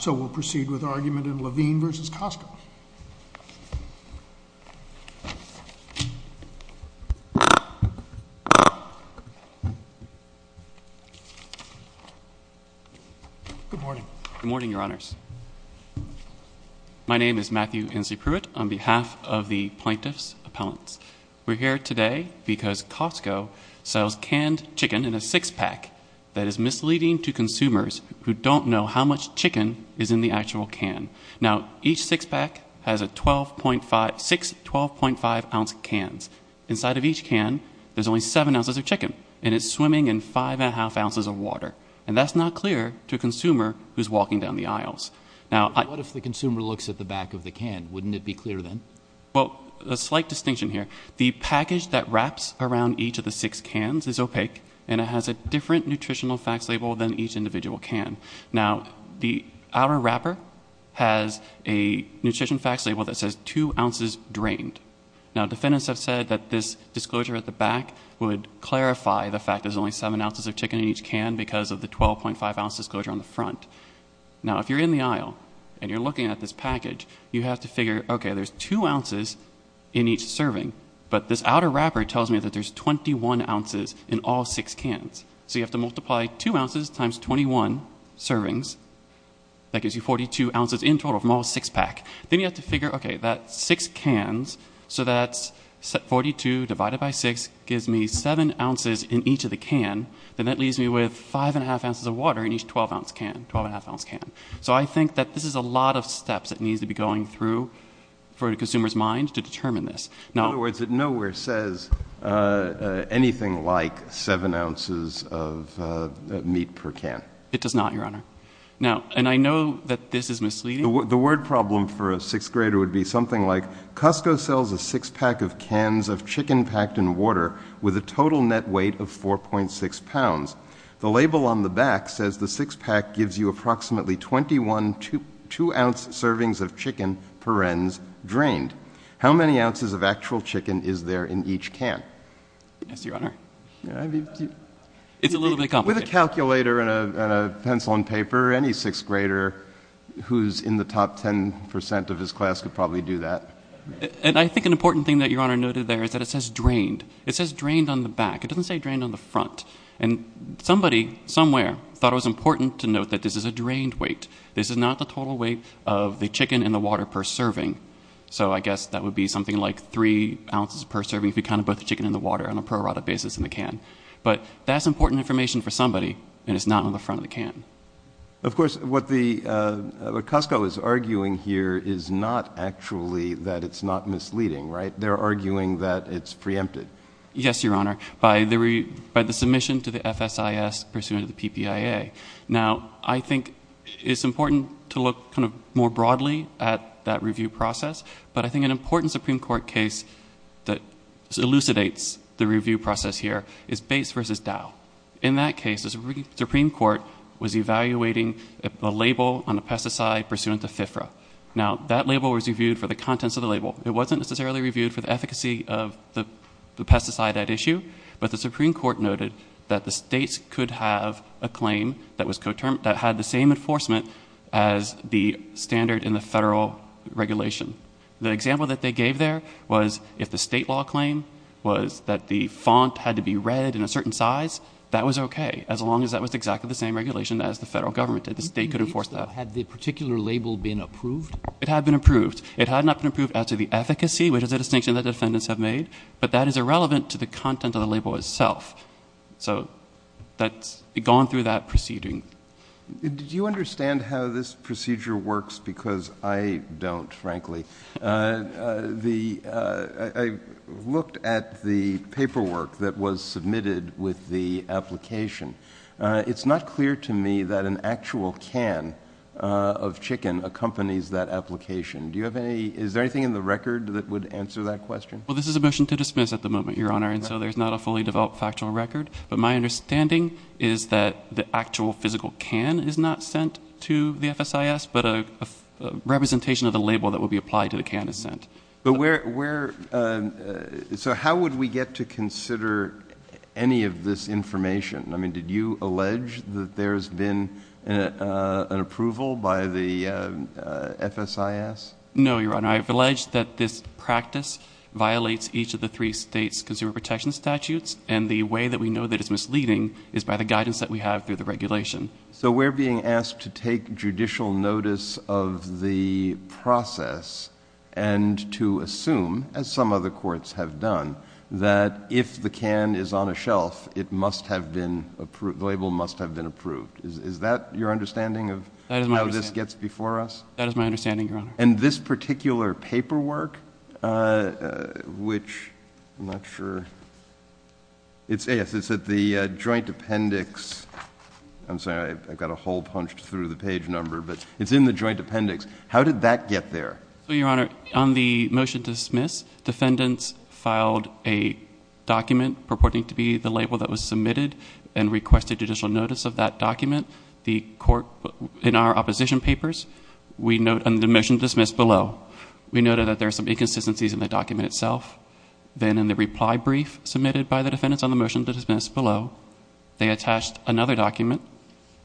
So we'll proceed with argument in Levine v. Costco. Good morning. Good morning, Your Honors. My name is Matthew Hensley Pruitt on behalf of the Plaintiff's Appellants. We're here today because Costco sells canned chicken in a six-pack that is misleading to consumers who don't know how much chicken is in the actual can. Now, each six-pack has six 12.5-ounce cans. Inside of each can, there's only seven ounces of chicken, and it's swimming in five and a half ounces of water. And that's not clear to a consumer who's walking down the aisles. What if the consumer looks at the back of the can? Wouldn't it be clear then? Well, a slight distinction here. The package that wraps around each of the six cans is opaque, and it has a different nutritional facts label than each individual can. Now, the outer wrapper has a nutrition facts label that says two ounces drained. Now, defendants have said that this disclosure at the back would clarify the fact there's only seven ounces of chicken in each can because of the 12.5-ounce disclosure on the front. Now, if you're in the aisle and you're looking at this package, you have to figure, okay, there's two ounces in each serving, but this outer wrapper tells me that there's 21 ounces in all six cans. So you have to multiply two ounces times 21 servings. That gives you 42 ounces in total from all six packs. Then you have to figure, okay, that's six cans. So that's 42 divided by six gives me seven ounces in each of the can, and that leaves me with five and a half ounces of water in each 12-ounce can, 12-and-a-half-ounce can. So I think that this is a lot of steps that needs to be going through for a consumer's mind to determine this. In other words, it nowhere says anything like seven ounces of meat per can. It does not, Your Honor. Now, and I know that this is misleading. The word problem for a sixth grader would be something like, Costco sells a six-pack of cans of chicken packed in water with a total net weight of 4.6 pounds. The label on the back says the six-pack gives you approximately 21 two-ounce servings of chicken per ounce drained. How many ounces of actual chicken is there in each can? Yes, Your Honor. It's a little bit complicated. With a calculator and a pencil and paper, any sixth grader who's in the top 10 percent of his class could probably do that. And I think an important thing that Your Honor noted there is that it says drained. It says drained on the back. It doesn't say drained on the front. And somebody somewhere thought it was important to note that this is a drained weight. This is not the total weight of the chicken in the water per serving. So I guess that would be something like three ounces per serving if you counted both the chicken and the water on a pro rata basis in the can. But that's important information for somebody, and it's not on the front of the can. Of course, what Costco is arguing here is not actually that it's not misleading, right? They're arguing that it's preempted. Yes, Your Honor, by the submission to the FSIS pursuant to the PPIA. Now, I think it's important to look kind of more broadly at that review process. But I think an important Supreme Court case that elucidates the review process here is Bates v. Dow. In that case, the Supreme Court was evaluating a label on a pesticide pursuant to FIFRA. Now, that label was reviewed for the contents of the label. It wasn't necessarily reviewed for the efficacy of the pesticide at issue. But the Supreme Court noted that the states could have a claim that had the same enforcement as the standard in the federal regulation. The example that they gave there was if the state law claim was that the font had to be read in a certain size, that was okay, as long as that was exactly the same regulation as the federal government did. The state could enforce that. Had the particular label been approved? It had been approved. It had not been approved as to the efficacy, which is a distinction that defendants have made. But that is irrelevant to the content of the label itself. So that's gone through that proceeding. Did you understand how this procedure works? Because I don't, frankly. I looked at the paperwork that was submitted with the application. It's not clear to me that an actual can of chicken accompanies that application. Is there anything in the record that would answer that question? Well, this is a motion to dismiss at the moment, Your Honor, and so there's not a fully developed factual record. But my understanding is that the actual physical can is not sent to the FSIS, but a representation of the label that would be applied to the can is sent. So how would we get to consider any of this information? I mean, did you allege that there's been an approval by the FSIS? No, Your Honor. I've alleged that this practice violates each of the three states' consumer protection statutes, and the way that we know that it's misleading is by the guidance that we have through the regulation. So we're being asked to take judicial notice of the process and to assume, as some other courts have done, that if the can is on a shelf, it must have been approved, the label must have been approved. Is that your understanding of how this gets before us? That is my understanding, Your Honor. And this particular paperwork, which I'm not sure. Yes, it's at the joint appendix. I'm sorry, I got a hole punched through the page number, but it's in the joint appendix. How did that get there? Well, Your Honor, on the motion to dismiss, defendants filed a document purporting to be the label that was submitted and requested judicial notice of that document. In our opposition papers, we note on the motion to dismiss below, we noted that there are some inconsistencies in the document itself. Then in the reply brief submitted by the defendants on the motion to dismiss below, they attached another document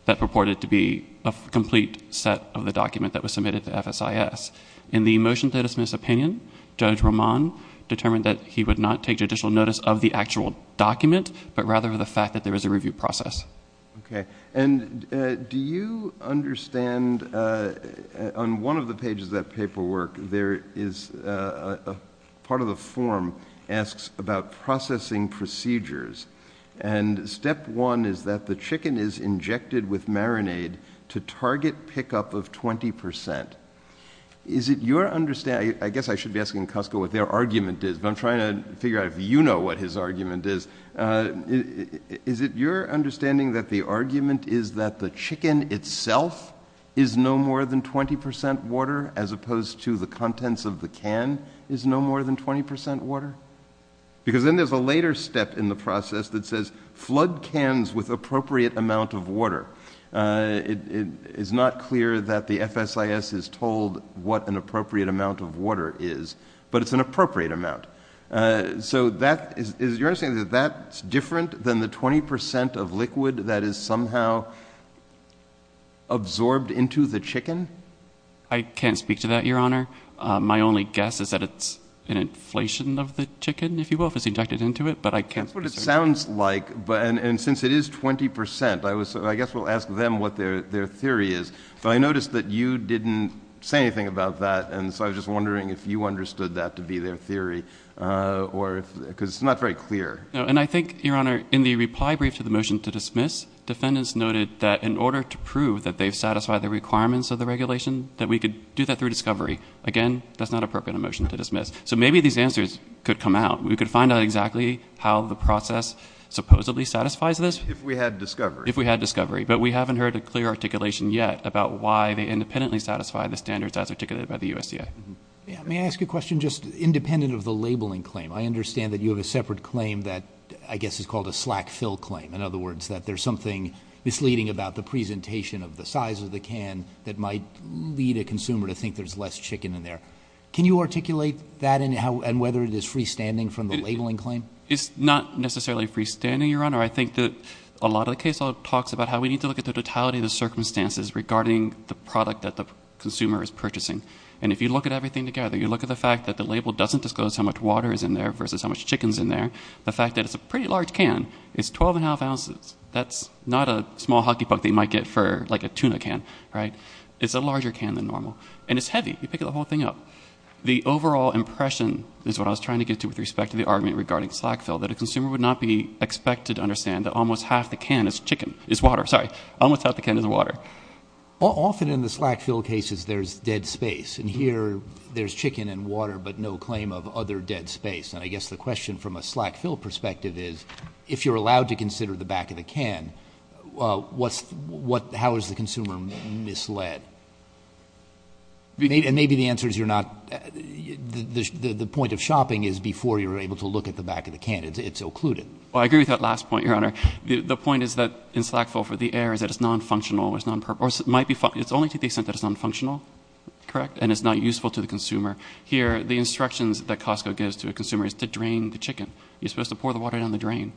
that purported to be a complete set of the document that was submitted to FSIS. In the motion to dismiss opinion, Judge Roman determined that he would not take judicial notice of the actual document, but rather of the fact that there was a review process. Okay. And do you understand on one of the pages of that paperwork, there is a part of the form asks about processing procedures, and step one is that the chicken is injected with marinade to target pickup of 20 percent. Is it your understanding, I guess I should be asking Cusco what their argument is, but I'm trying to figure out if you know what his argument is. Is it your understanding that the argument is that the chicken itself is no more than 20 percent water, as opposed to the contents of the can is no more than 20 percent water? Because then there's a later step in the process that says flood cans with appropriate amount of water. It is not clear that the FSIS is told what an appropriate amount of water is, but it's an appropriate amount. So is it your understanding that that's different than the 20 percent of liquid that is somehow absorbed into the chicken? I can't speak to that, Your Honor. My only guess is that it's an inflation of the chicken, if you will, if it's injected into it, but I can't speak to that. That's what it sounds like, and since it is 20 percent, I guess we'll ask them what their theory is. But I noticed that you didn't say anything about that, and so I was just wondering if you understood that to be their theory, because it's not very clear. And I think, Your Honor, in the reply brief to the motion to dismiss, defendants noted that in order to prove that they've satisfied the requirements of the regulation, that we could do that through discovery. Again, that's not appropriate in a motion to dismiss. So maybe these answers could come out. We could find out exactly how the process supposedly satisfies this. If we had discovery. If we had discovery. But we haven't heard a clear articulation yet about why they independently satisfy the standards as articulated by the USDA. May I ask a question just independent of the labeling claim? I understand that you have a separate claim that I guess is called a slack fill claim. In other words, that there's something misleading about the presentation of the size of the can that might lead a consumer to think there's less chicken in there. Can you articulate that and whether it is freestanding from the labeling claim? It's not necessarily freestanding, Your Honor. I think that a lot of the case law talks about how we need to look at the totality of the circumstances regarding the product that the consumer is purchasing. And if you look at everything together, you look at the fact that the label doesn't disclose how much water is in there versus how much chicken is in there. The fact that it's a pretty large can, it's 12 and a half ounces. That's not a small hockey puck that you might get for like a tuna can, right? It's a larger can than normal. And it's heavy. You pick the whole thing up. The overall impression is what I was trying to get to with respect to the argument regarding slack fill, that a consumer would not be expected to understand that almost half the can is chicken, is water. Sorry. Almost half the can is water. Often in the slack fill cases, there's dead space. And here there's chicken and water but no claim of other dead space. And I guess the question from a slack fill perspective is if you're allowed to consider the back of the can, how is the consumer misled? And maybe the answer is you're not. The point of shopping is before you're able to look at the back of the can. It's occluded. Well, I agree with that last point, Your Honor. The point is that in slack fill for the air is that it's nonfunctional. It's only to the extent that it's nonfunctional, correct, and it's not useful to the consumer. Here the instructions that Costco gives to a consumer is to drain the chicken. You're supposed to pour the water down the drain.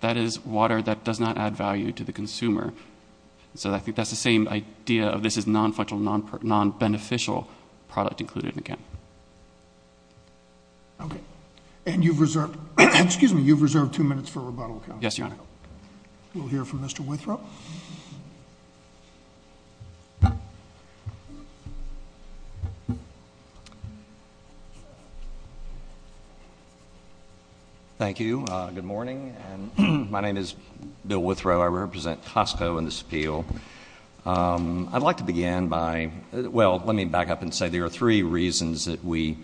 That is water that does not add value to the consumer. So I think that's the same idea of this is nonfunctional, nonbeneficial product included in the can. Okay. And you've reserved two minutes for rebuttal, counsel. Yes, Your Honor. We'll hear from Mr. Withrow. Thank you. Good morning. My name is Bill Withrow. I represent Costco in this appeal. I'd like to begin by, well, let me back up and say there are three reasons that we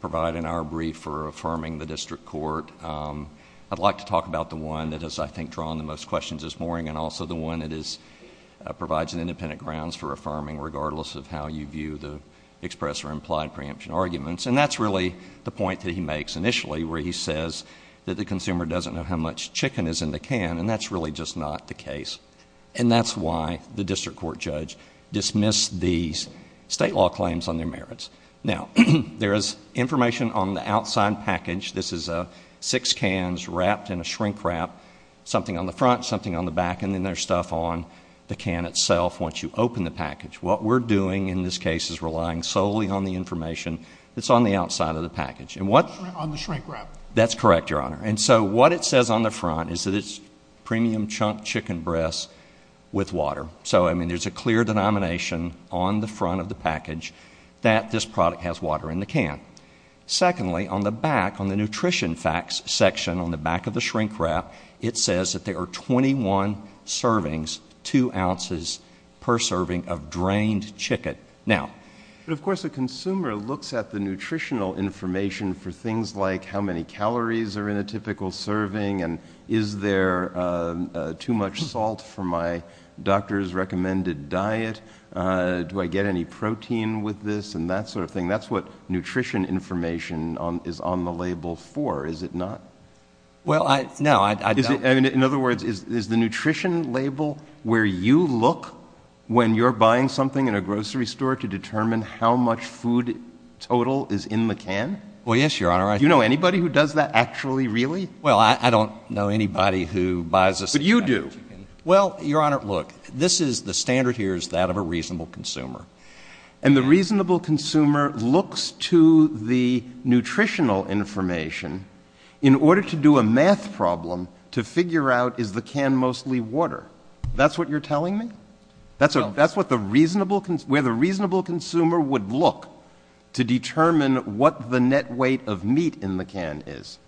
provide in our brief for affirming the district court. I'd like to talk about the one that has, I think, drawn the most questions this morning and also the one that provides an independent grounds for affirming regardless of how you view the express or implied preemption arguments. And that's really the point that he makes initially where he says that the consumer doesn't know how much chicken is in the can, and that's really just not the case. And that's why the district court judge dismissed these state law claims on their merits. Now, there is information on the outside package. This is six cans wrapped in a shrink wrap, something on the front, something on the back, and then there's stuff on the can itself once you open the package. What we're doing in this case is relying solely on the information that's on the outside of the package. On the shrink wrap. That's correct, Your Honor. And so what it says on the front is that it's premium chunk chicken breast with water. So, I mean, there's a clear denomination on the front of the package that this product has water in the can. Secondly, on the back, on the nutrition facts section on the back of the shrink wrap, it says that there are 21 servings, two ounces per serving of drained chicken. But, of course, a consumer looks at the nutritional information for things like how many calories are in a typical serving and is there too much salt for my doctor's recommended diet, do I get any protein with this, and that sort of thing. That's what nutrition information is on the label for, is it not? Well, no. In other words, is the nutrition label where you look when you're buying something in a grocery store to determine how much food total is in the can? Well, yes, Your Honor. Do you know anybody who does that actually really? Well, I don't know anybody who buys this. But you do. Well, Your Honor, look, this is the standard here is that of a reasonable consumer. And the reasonable consumer looks to the nutritional information in order to do a math problem to figure out is the can mostly water. That's what you're telling me? That's where the reasonable consumer would look to determine what the net weight of meat in the can is?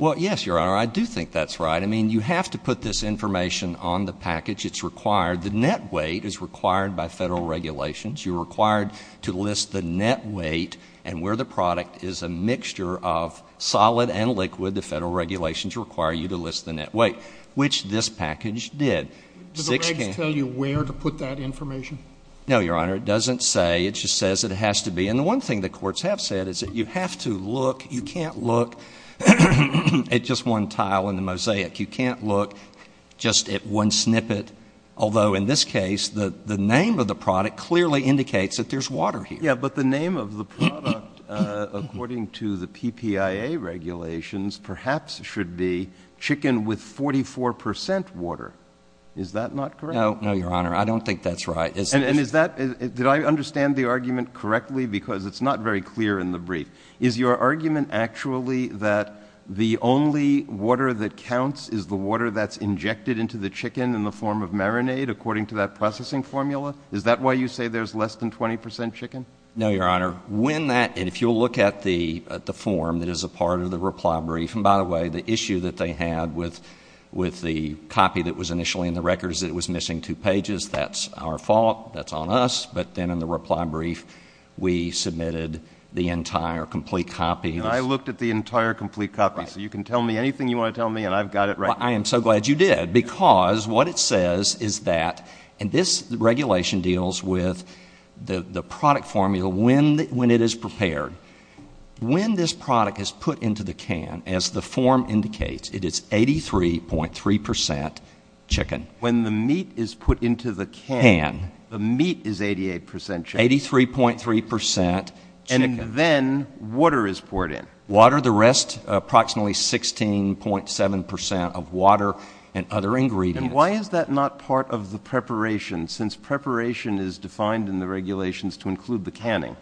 Well, yes, Your Honor, I do think that's right. I mean, you have to put this information on the package. It's required. The net weight is required by federal regulations. You're required to list the net weight. And where the product is a mixture of solid and liquid, the federal regulations require you to list the net weight, which this package did. Do the regs tell you where to put that information? No, Your Honor. It doesn't say. It just says it has to be. And the one thing the courts have said is that you have to look, you can't look at just one tile in the mosaic. You can't look just at one snippet, although in this case, the name of the product clearly indicates that there's water here. Yeah, but the name of the product, according to the PPIA regulations, perhaps should be chicken with 44% water. Is that not correct? No, Your Honor, I don't think that's right. And is that, did I understand the argument correctly? Because it's not very clear in the brief. Is your argument actually that the only water that counts is the water that's injected into the chicken in the form of marinade, according to that processing formula? Is that why you say there's less than 20% chicken? No, Your Honor. When that, and if you'll look at the form that is a part of the reply brief, and by the way, the issue that they had with the copy that was initially in the records, it was missing two pages. That's our fault. That's on us. But then in the reply brief, we submitted the entire complete copy. And I looked at the entire complete copy. So you can tell me anything you want to tell me, and I've got it right. Well, I am so glad you did, because what it says is that, and this regulation deals with the product formula when it is prepared. When this product is put into the can, as the form indicates, it is 83.3% chicken. When the meat is put into the can, the meat is 88% chicken. 83.3% chicken. And then water is poured in. Water. The rest, approximately 16.7% of water and other ingredients. And why is that not part of the preparation, since preparation is defined in the regulations to include the canning?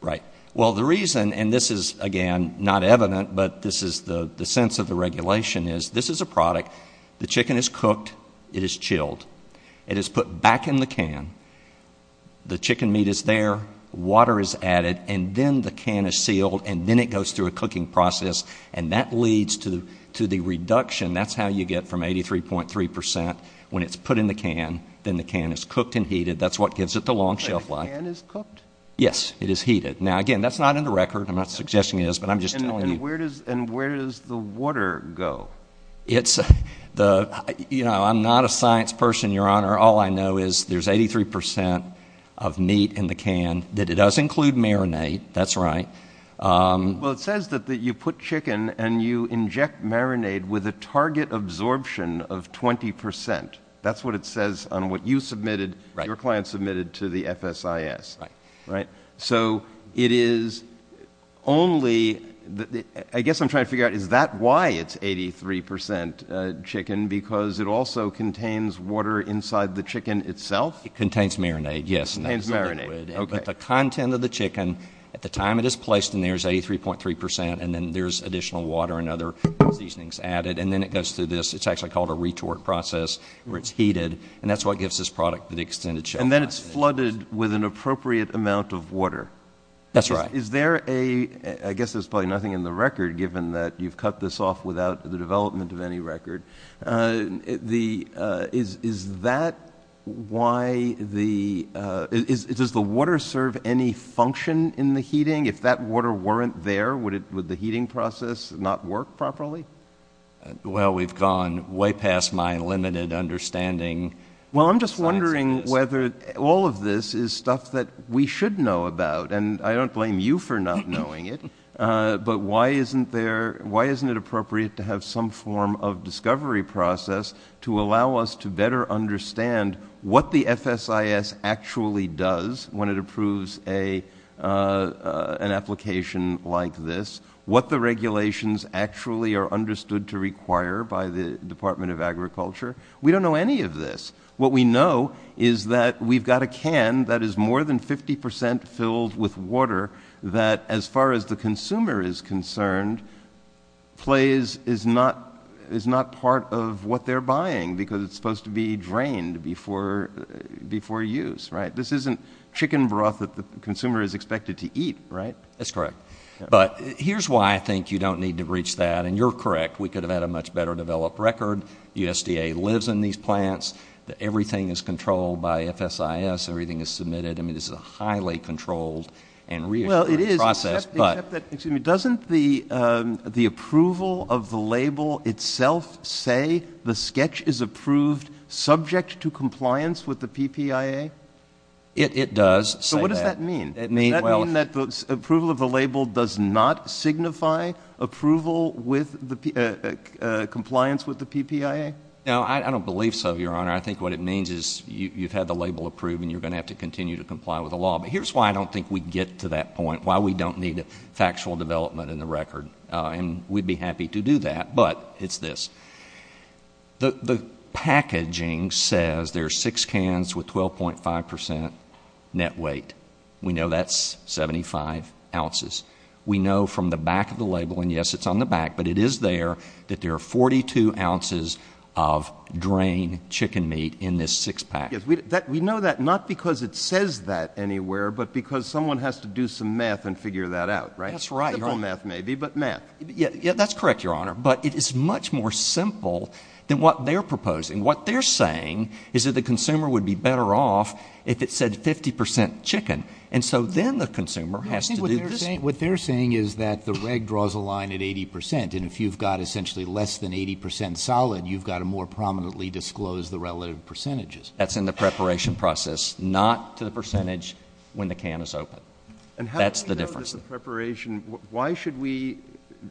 Right. Well, the reason, and this is, again, not evident, but this is the sense of the regulation is this is a product. The chicken is cooked. It is chilled. It is put back in the can. The chicken meat is there. Water is added, and then the can is sealed, and then it goes through a cooking process, and that leads to the reduction. That's how you get from 83.3% when it's put in the can. Then the can is cooked and heated. That's what gives it the long shelf life. The can is cooked? Yes, it is heated. Now, again, that's not in the record. I'm not suggesting it is, but I'm just telling you. And where does the water go? You know, I'm not a science person, Your Honor. All I know is there's 83% of meat in the can. It does include marinade. That's right. Well, it says that you put chicken and you inject marinade with a target absorption of 20%. That's what it says on what you submitted, your client submitted, to the FSIS. Right. Right? I guess I'm trying to figure out, is that why it's 83% chicken, because it also contains water inside the chicken itself? It contains marinade, yes. It contains marinade. But the content of the chicken at the time it is placed in there is 83.3%, and then there's additional water and other seasonings added, and then it goes through this. It's actually called a retort process where it's heated, and that's what gives this product the extended shelf life. And then it's flooded with an appropriate amount of water. That's right. Is there a – I guess there's probably nothing in the record, given that you've cut this off without the development of any record. Is that why the – does the water serve any function in the heating? If that water weren't there, would the heating process not work properly? Well, we've gone way past my limited understanding. Well, I'm just wondering whether all of this is stuff that we should know about, and I don't blame you for not knowing it, but why isn't it appropriate to have some form of discovery process to allow us to better understand what the FSIS actually does when it approves an application like this, what the regulations actually are understood to require by the Department of Agriculture. We don't know any of this. What we know is that we've got a can that is more than 50% filled with water that, as far as the consumer is concerned, plays – is not part of what they're buying because it's supposed to be drained before use, right? This isn't chicken broth that the consumer is expected to eat, right? That's correct. But here's why I think you don't need to breach that, and you're correct. We could have had a much better developed record. USDA lives in these plants. Everything is controlled by FSIS. Everything is submitted. I mean, this is a highly controlled and reassuring process. Well, it is, except that – excuse me – doesn't the approval of the label itself say the sketch is approved subject to compliance with the PPIA? It does say that. So what does that mean? Does that mean that the approval of the label does not signify compliance with the PPIA? No, I don't believe so, Your Honor. I think what it means is you've had the label approved and you're going to have to continue to comply with the law. But here's why I don't think we get to that point, why we don't need a factual development in the record. And we'd be happy to do that, but it's this. The packaging says there are six cans with 12.5% net weight. We know that's 75 ounces. We know from the back of the label, and, yes, it's on the back, but it is there that there are 42 ounces of drained chicken meat in this six-pack. Yes, we know that not because it says that anywhere, but because someone has to do some math and figure that out, right? That's right, Your Honor. Simple math maybe, but math. Yeah, that's correct, Your Honor. But it is much more simple than what they're proposing. What they're saying is that the consumer would be better off if it said 50% chicken, and so then the consumer has to do this. What they're saying is that the reg draws a line at 80%, and if you've got essentially less than 80% solid, you've got to more prominently disclose the relative percentages. That's in the preparation process, not to the percentage when the can is open. That's the difference. And how do we know this is preparation? Why should we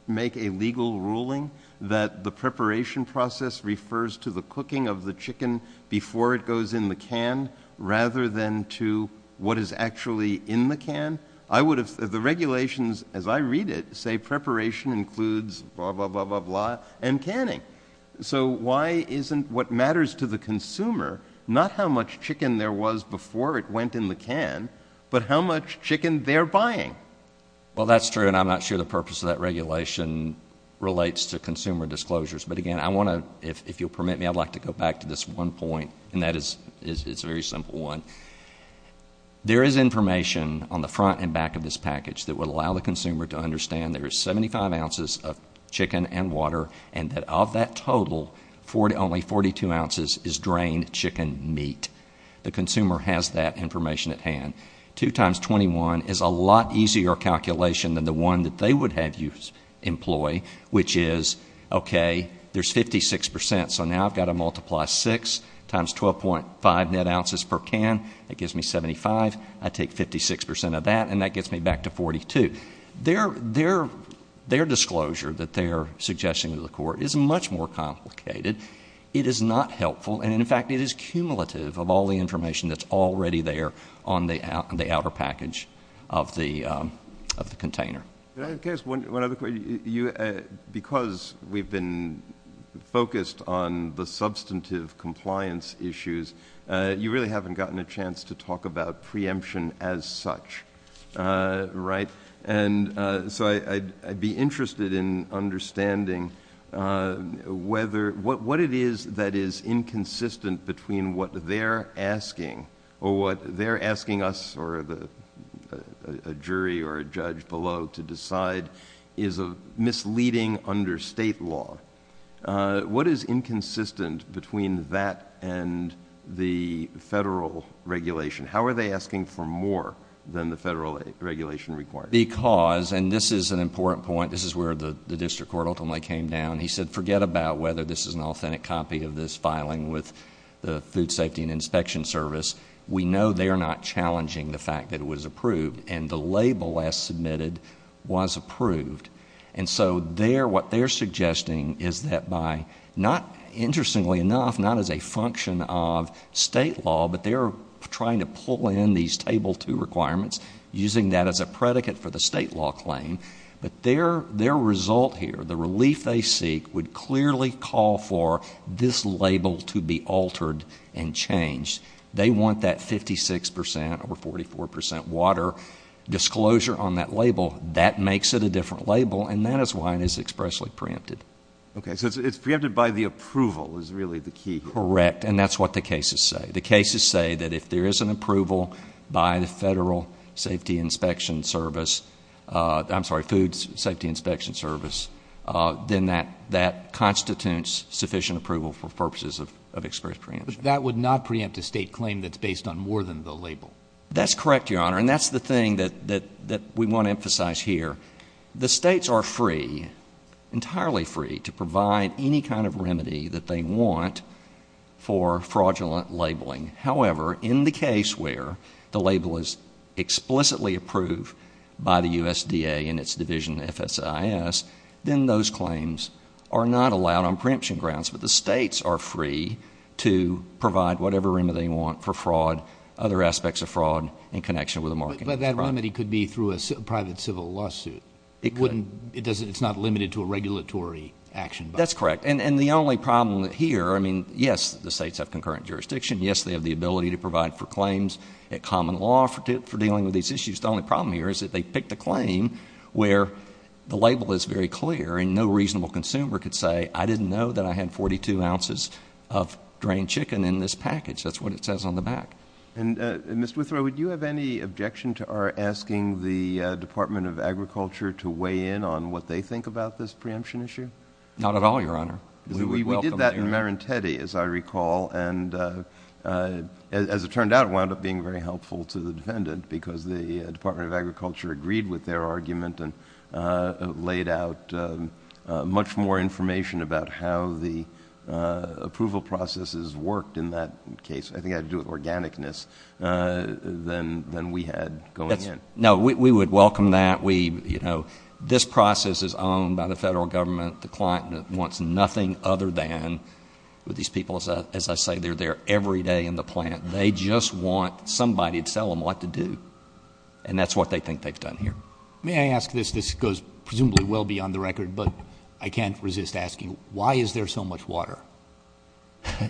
make a legal ruling that the preparation process refers to the cooking of the chicken before it goes in the can rather than to what is actually in the can? The regulations, as I read it, say preparation includes blah, blah, blah, blah, and canning. So why isn't what matters to the consumer not how much chicken there was before it went in the can, but how much chicken they're buying? Well, that's true, and I'm not sure the purpose of that regulation relates to consumer disclosures. But, again, if you'll permit me, I'd like to go back to this one point, and that is a very simple one. There is information on the front and back of this package that would allow the consumer to understand there is 75 ounces of chicken and water, and that of that total, only 42 ounces is drained chicken meat. The consumer has that information at hand. Two times 21 is a lot easier calculation than the one that they would have you employ, which is, okay, there's 56%, so now I've got to multiply 6 times 12.5 net ounces per can. That gives me 75. I take 56% of that, and that gets me back to 42. Their disclosure that they're suggesting to the court is much more complicated. It is not helpful, and, in fact, it is cumulative of all the information that's already there on the outer package of the container. Can I ask one other question? Because we've been focused on the substantive compliance issues, you really haven't gotten a chance to talk about preemption as such, right? So I'd be interested in understanding what it is that is inconsistent between what they're asking or what they're asking us or a jury or a judge below to decide is misleading under state law. What is inconsistent between that and the federal regulation? How are they asking for more than the federal regulation requires? Because, and this is an important point, this is where the district court ultimately came down, he said forget about whether this is an authentic copy of this filing with the Food Safety and Inspection Service. We know they are not challenging the fact that it was approved, and the label as submitted was approved. And so what they're suggesting is that by not, interestingly enough, not as a function of state law, but they're trying to pull in these Table 2 requirements, using that as a predicate for the state law claim, but their result here, the relief they seek, would clearly call for this label to be altered and changed. They want that 56% or 44% water disclosure on that label. That makes it a different label, and that is why it is expressly preempted. Okay, so it's preempted by the approval is really the key. Correct, and that's what the cases say. The cases say that if there is an approval by the Federal Safety Inspection Service, I'm sorry, Food Safety Inspection Service, then that constitutes sufficient approval for purposes of express preemption. But that would not preempt a state claim that's based on more than the label. That's correct, Your Honor, and that's the thing that we want to emphasize here. The states are free, entirely free, to provide any kind of remedy that they want for fraudulent labeling. However, in the case where the label is explicitly approved by the USDA and its division, FSIS, then those claims are not allowed on preemption grounds. But the states are free to provide whatever remedy they want for fraud, other aspects of fraud in connection with a marketing program. But that remedy could be through a private civil lawsuit. It's not limited to a regulatory action. That's correct, and the only problem here, I mean, yes, the states have concurrent jurisdiction, yes, they have the ability to provide for claims, a common law for dealing with these issues. The only problem here is that they pick the claim where the label is very clear and no reasonable consumer could say, I didn't know that I had 42 ounces of drained chicken in this package. That's what it says on the back. And, Mr. Withrow, would you have any objection to our asking the Department of Agriculture to weigh in on what they think about this preemption issue? Not at all, Your Honor. We did that in Marentetti, as I recall, and as it turned out, it wound up being very helpful to the defendant because the Department of Agriculture agreed with their argument and laid out much more information about how the approval processes worked in that case. I think it had to do with organicness than we had going in. No, we would welcome that. This process is owned by the federal government. The client wants nothing other than, these people, as I say, they're there every day in the plant. They just want somebody to tell them what to do, and that's what they think they've done here. May I ask this? This goes presumably well beyond the record, but I can't resist asking, why is there so much water?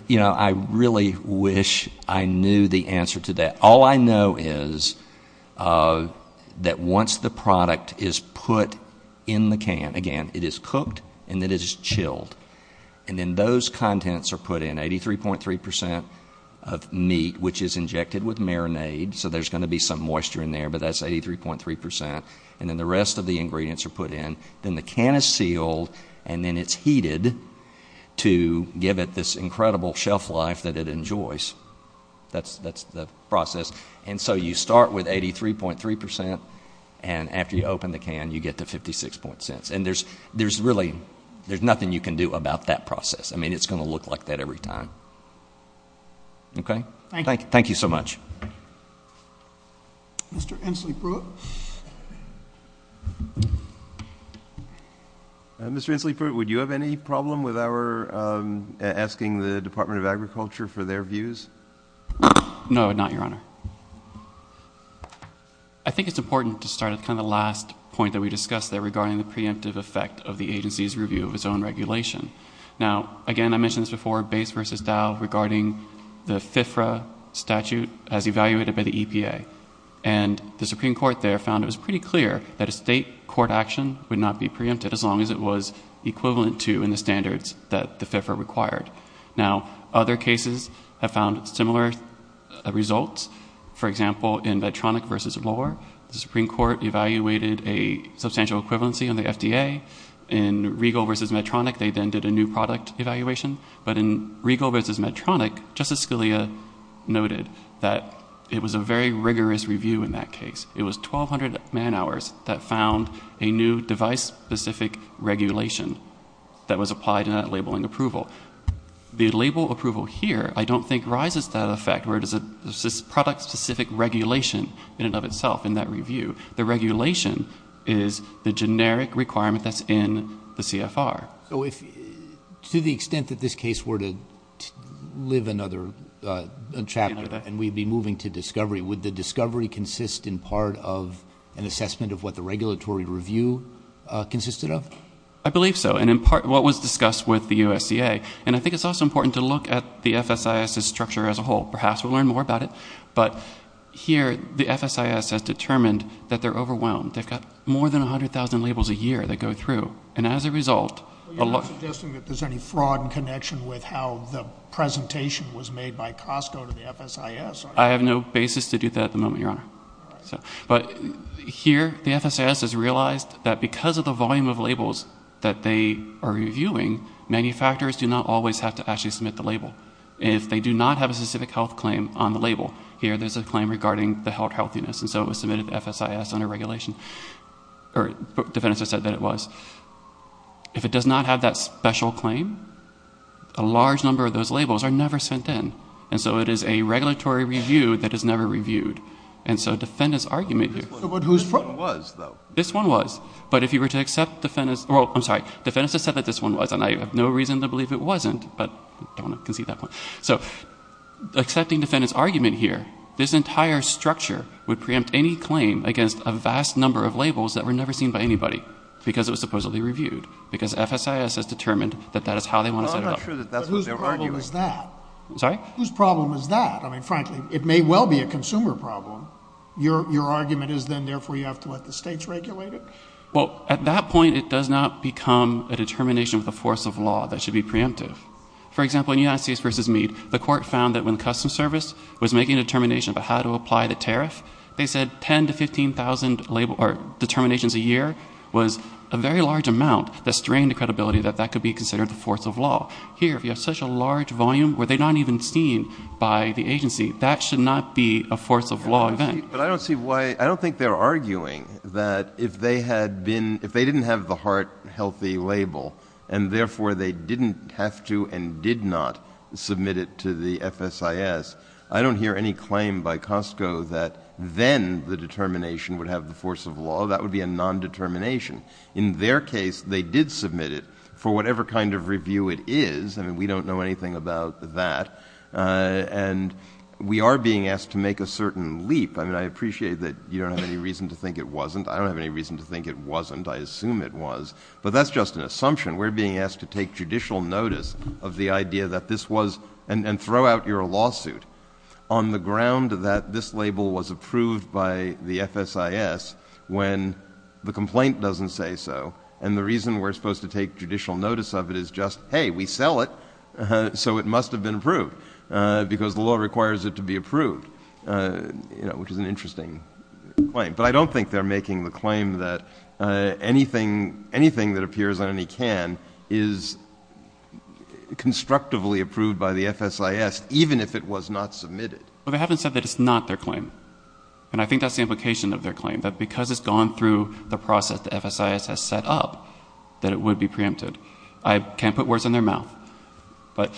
You know, I really wish I knew the answer to that. All I know is that once the product is put in the can, again, it is cooked and it is chilled, and then those contents are put in, 83.3% of meat, which is injected with marinade, so there's going to be some moisture in there, but that's 83.3%, and then the rest of the ingredients are put in. Then the can is sealed, and then it's heated to give it this incredible shelf life that it enjoys. That's the process. And so you start with 83.3%, and after you open the can, you get to 56.6%. And there's really nothing you can do about that process. I mean, it's going to look like that every time. Okay? Thank you. Thank you so much. Mr. Inslee-Pruitt. Mr. Inslee-Pruitt, would you have any problem with our asking the Department of Agriculture for their views? No, not your Honor. I think it's important to start at kind of the last point that we discussed there regarding the preemptive effect of the agency's review of its own regulation. Now, again, I mentioned this before, BASE versus Dow regarding the FFRA statute as evaluated by the EPA. And the Supreme Court there found it was pretty clear that a state court action would not be preempted as long as it was equivalent to in the standards that the FFRA required. Now, other cases have found similar results. For example, in Vedtronic versus Lohr, the Supreme Court evaluated a substantial equivalency on the FDA. In Riegel versus Vedtronic, they then did a new product evaluation. But in Riegel versus Vedtronic, Justice Scalia noted that it was a very rigorous review in that case. It was 1,200 man-hours that found a new device-specific regulation that was applied in that labeling approval. The label approval here I don't think rises to that effect where it is a product-specific regulation in and of itself in that review. The regulation is the generic requirement that's in the CFR. So to the extent that this case were to live another chapter and we'd be moving to discovery, would the discovery consist in part of an assessment of what the regulatory review consisted of? I believe so, and in part what was discussed with the USDA. And I think it's also important to look at the FSIS's structure as a whole, perhaps we'll learn more about it, but here the FSIS has determined that they're overwhelmed. They've got more than 100,000 labels a year that go through, and as a result... You're not suggesting that there's any fraud in connection with how the presentation was made by Costco to the FSIS? I have no basis to do that at the moment, Your Honor. But here the FSIS has realized that because of the volume of labels that they are reviewing, manufacturers do not always have to actually submit the label. If they do not have a specific health claim on the label, here there's a claim regarding the healthiness, and so it was submitted to FSIS under regulation, or defendants have said that it was. If it does not have that special claim, a large number of those labels are never sent in, and so it is a regulatory review that is never reviewed. And so defendants' argument here... But whose front was, though? This one was, but if you were to accept defendants'... Well, I'm sorry, defendants have said that this one was, and I have no reason to believe it wasn't, but I don't want to concede that point. So accepting defendants' argument here, this entire structure would preempt any claim against a vast number of labels that were never seen by anybody because it was supposedly reviewed, because FSIS has determined that that is how they want to set it up. But whose problem is that? I'm sorry? Whose problem is that? I mean, frankly, it may well be a consumer problem. Your argument is then therefore you have to let the states regulate it? Well, at that point, it does not become a determination of the force of law that should be preemptive. For example, in United States v. Meade, the court found that when the Customs Service was making a determination about how to apply the tariff, they said 10,000 to 15,000 label or determinations a year was a very large amount that strained the credibility that that could be considered the force of law. Here, if you have such a large volume, where they're not even seen by the agency, that should not be a force of law event. But I don't see why... I don't think they're arguing that if they didn't have the heart-healthy label and, therefore, they didn't have to and did not submit it to the FSIS, I don't hear any claim by Costco that then the determination would have the force of law. That would be a non-determination. In their case, they did submit it for whatever kind of review it is. I mean, we don't know anything about that. And we are being asked to make a certain leap. I appreciate that you don't have any reason to think it wasn't. I don't have any reason to think it wasn't. I assume it was, but that's just an assumption. We're being asked to take judicial notice of the idea that this was... And throw out your lawsuit on the ground that this label was approved by the FSIS when the complaint doesn't say so, and the reason we're supposed to take judicial notice of it is just, hey, we sell it, so it must have been approved, because the law requires it to be approved, which is an interesting claim. But I don't think they're making the claim that anything that appears on any can is constructively approved by the FSIS, even if it was not submitted. Well, they haven't said that it's not their claim. And I think that's the implication of their claim, that because it's gone through the process the FSIS has set up, that it would be preempted. I can't put words in their mouth. But...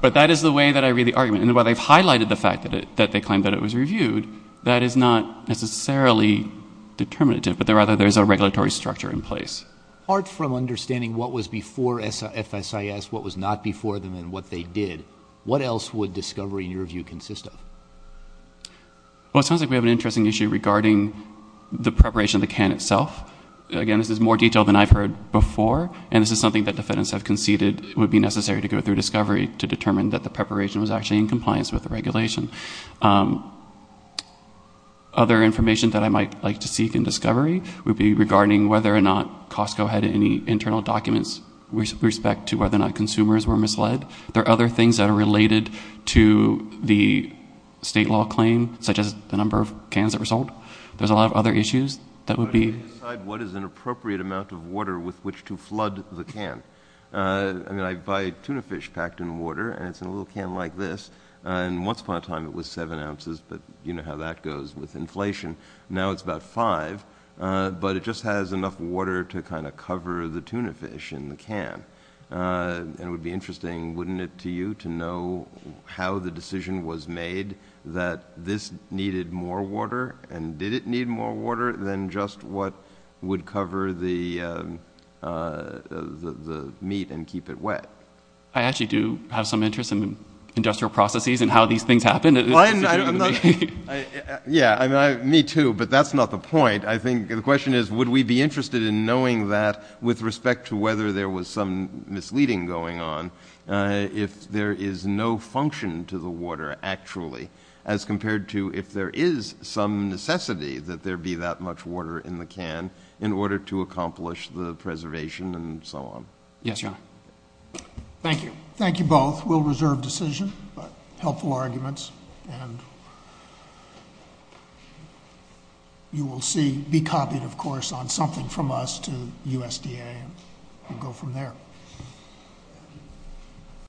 But that is the way that I read the argument. And while they've highlighted the fact that they claim that it was reviewed, that is not necessarily determinative, but rather there's a regulatory structure in place. Apart from understanding what was before FSIS, what was not before them, and what they did, what else would discovery, in your view, consist of? Well, it sounds like we have an interesting issue regarding the preparation of the can itself. Again, this is more detailed than I've heard before, and this is something that defendants have conceded would be necessary to go through discovery to determine that the preparation was actually in compliance with the regulation. Other information that I might like to seek in discovery would be regarding whether or not Costco had any internal documents with respect to whether or not consumers were misled. There are other things that are related to the state law claim, such as the number of cans that were sold. There's a lot of other issues that would be... How do you decide what is an appropriate amount of water with which to flood the can? I mean, I buy tuna fish packed in water, and it's in a little can like this, and once upon a time it was seven ounces, but you know how that goes with inflation. Now it's about five, but it just has enough water to kind of cover the tuna fish in the can. And it would be interesting, wouldn't it, to you, to know how the decision was made that this needed more water, and did it need more water than just what would cover the meat and keep it wet? I actually do have some interest in industrial processes and how these things happen. Yeah, me too, but that's not the point. I think the question is would we be interested in knowing that with respect to whether there was some misleading going on if there is no function to the water actually as compared to if there is some necessity that there be that much water in the can in order to accomplish the preservation and so on. Yes, John. Thank you. Thank you both. We'll reserve decision, but helpful arguments, and you will see, be copied, of course, on something from us to USDA and go from there.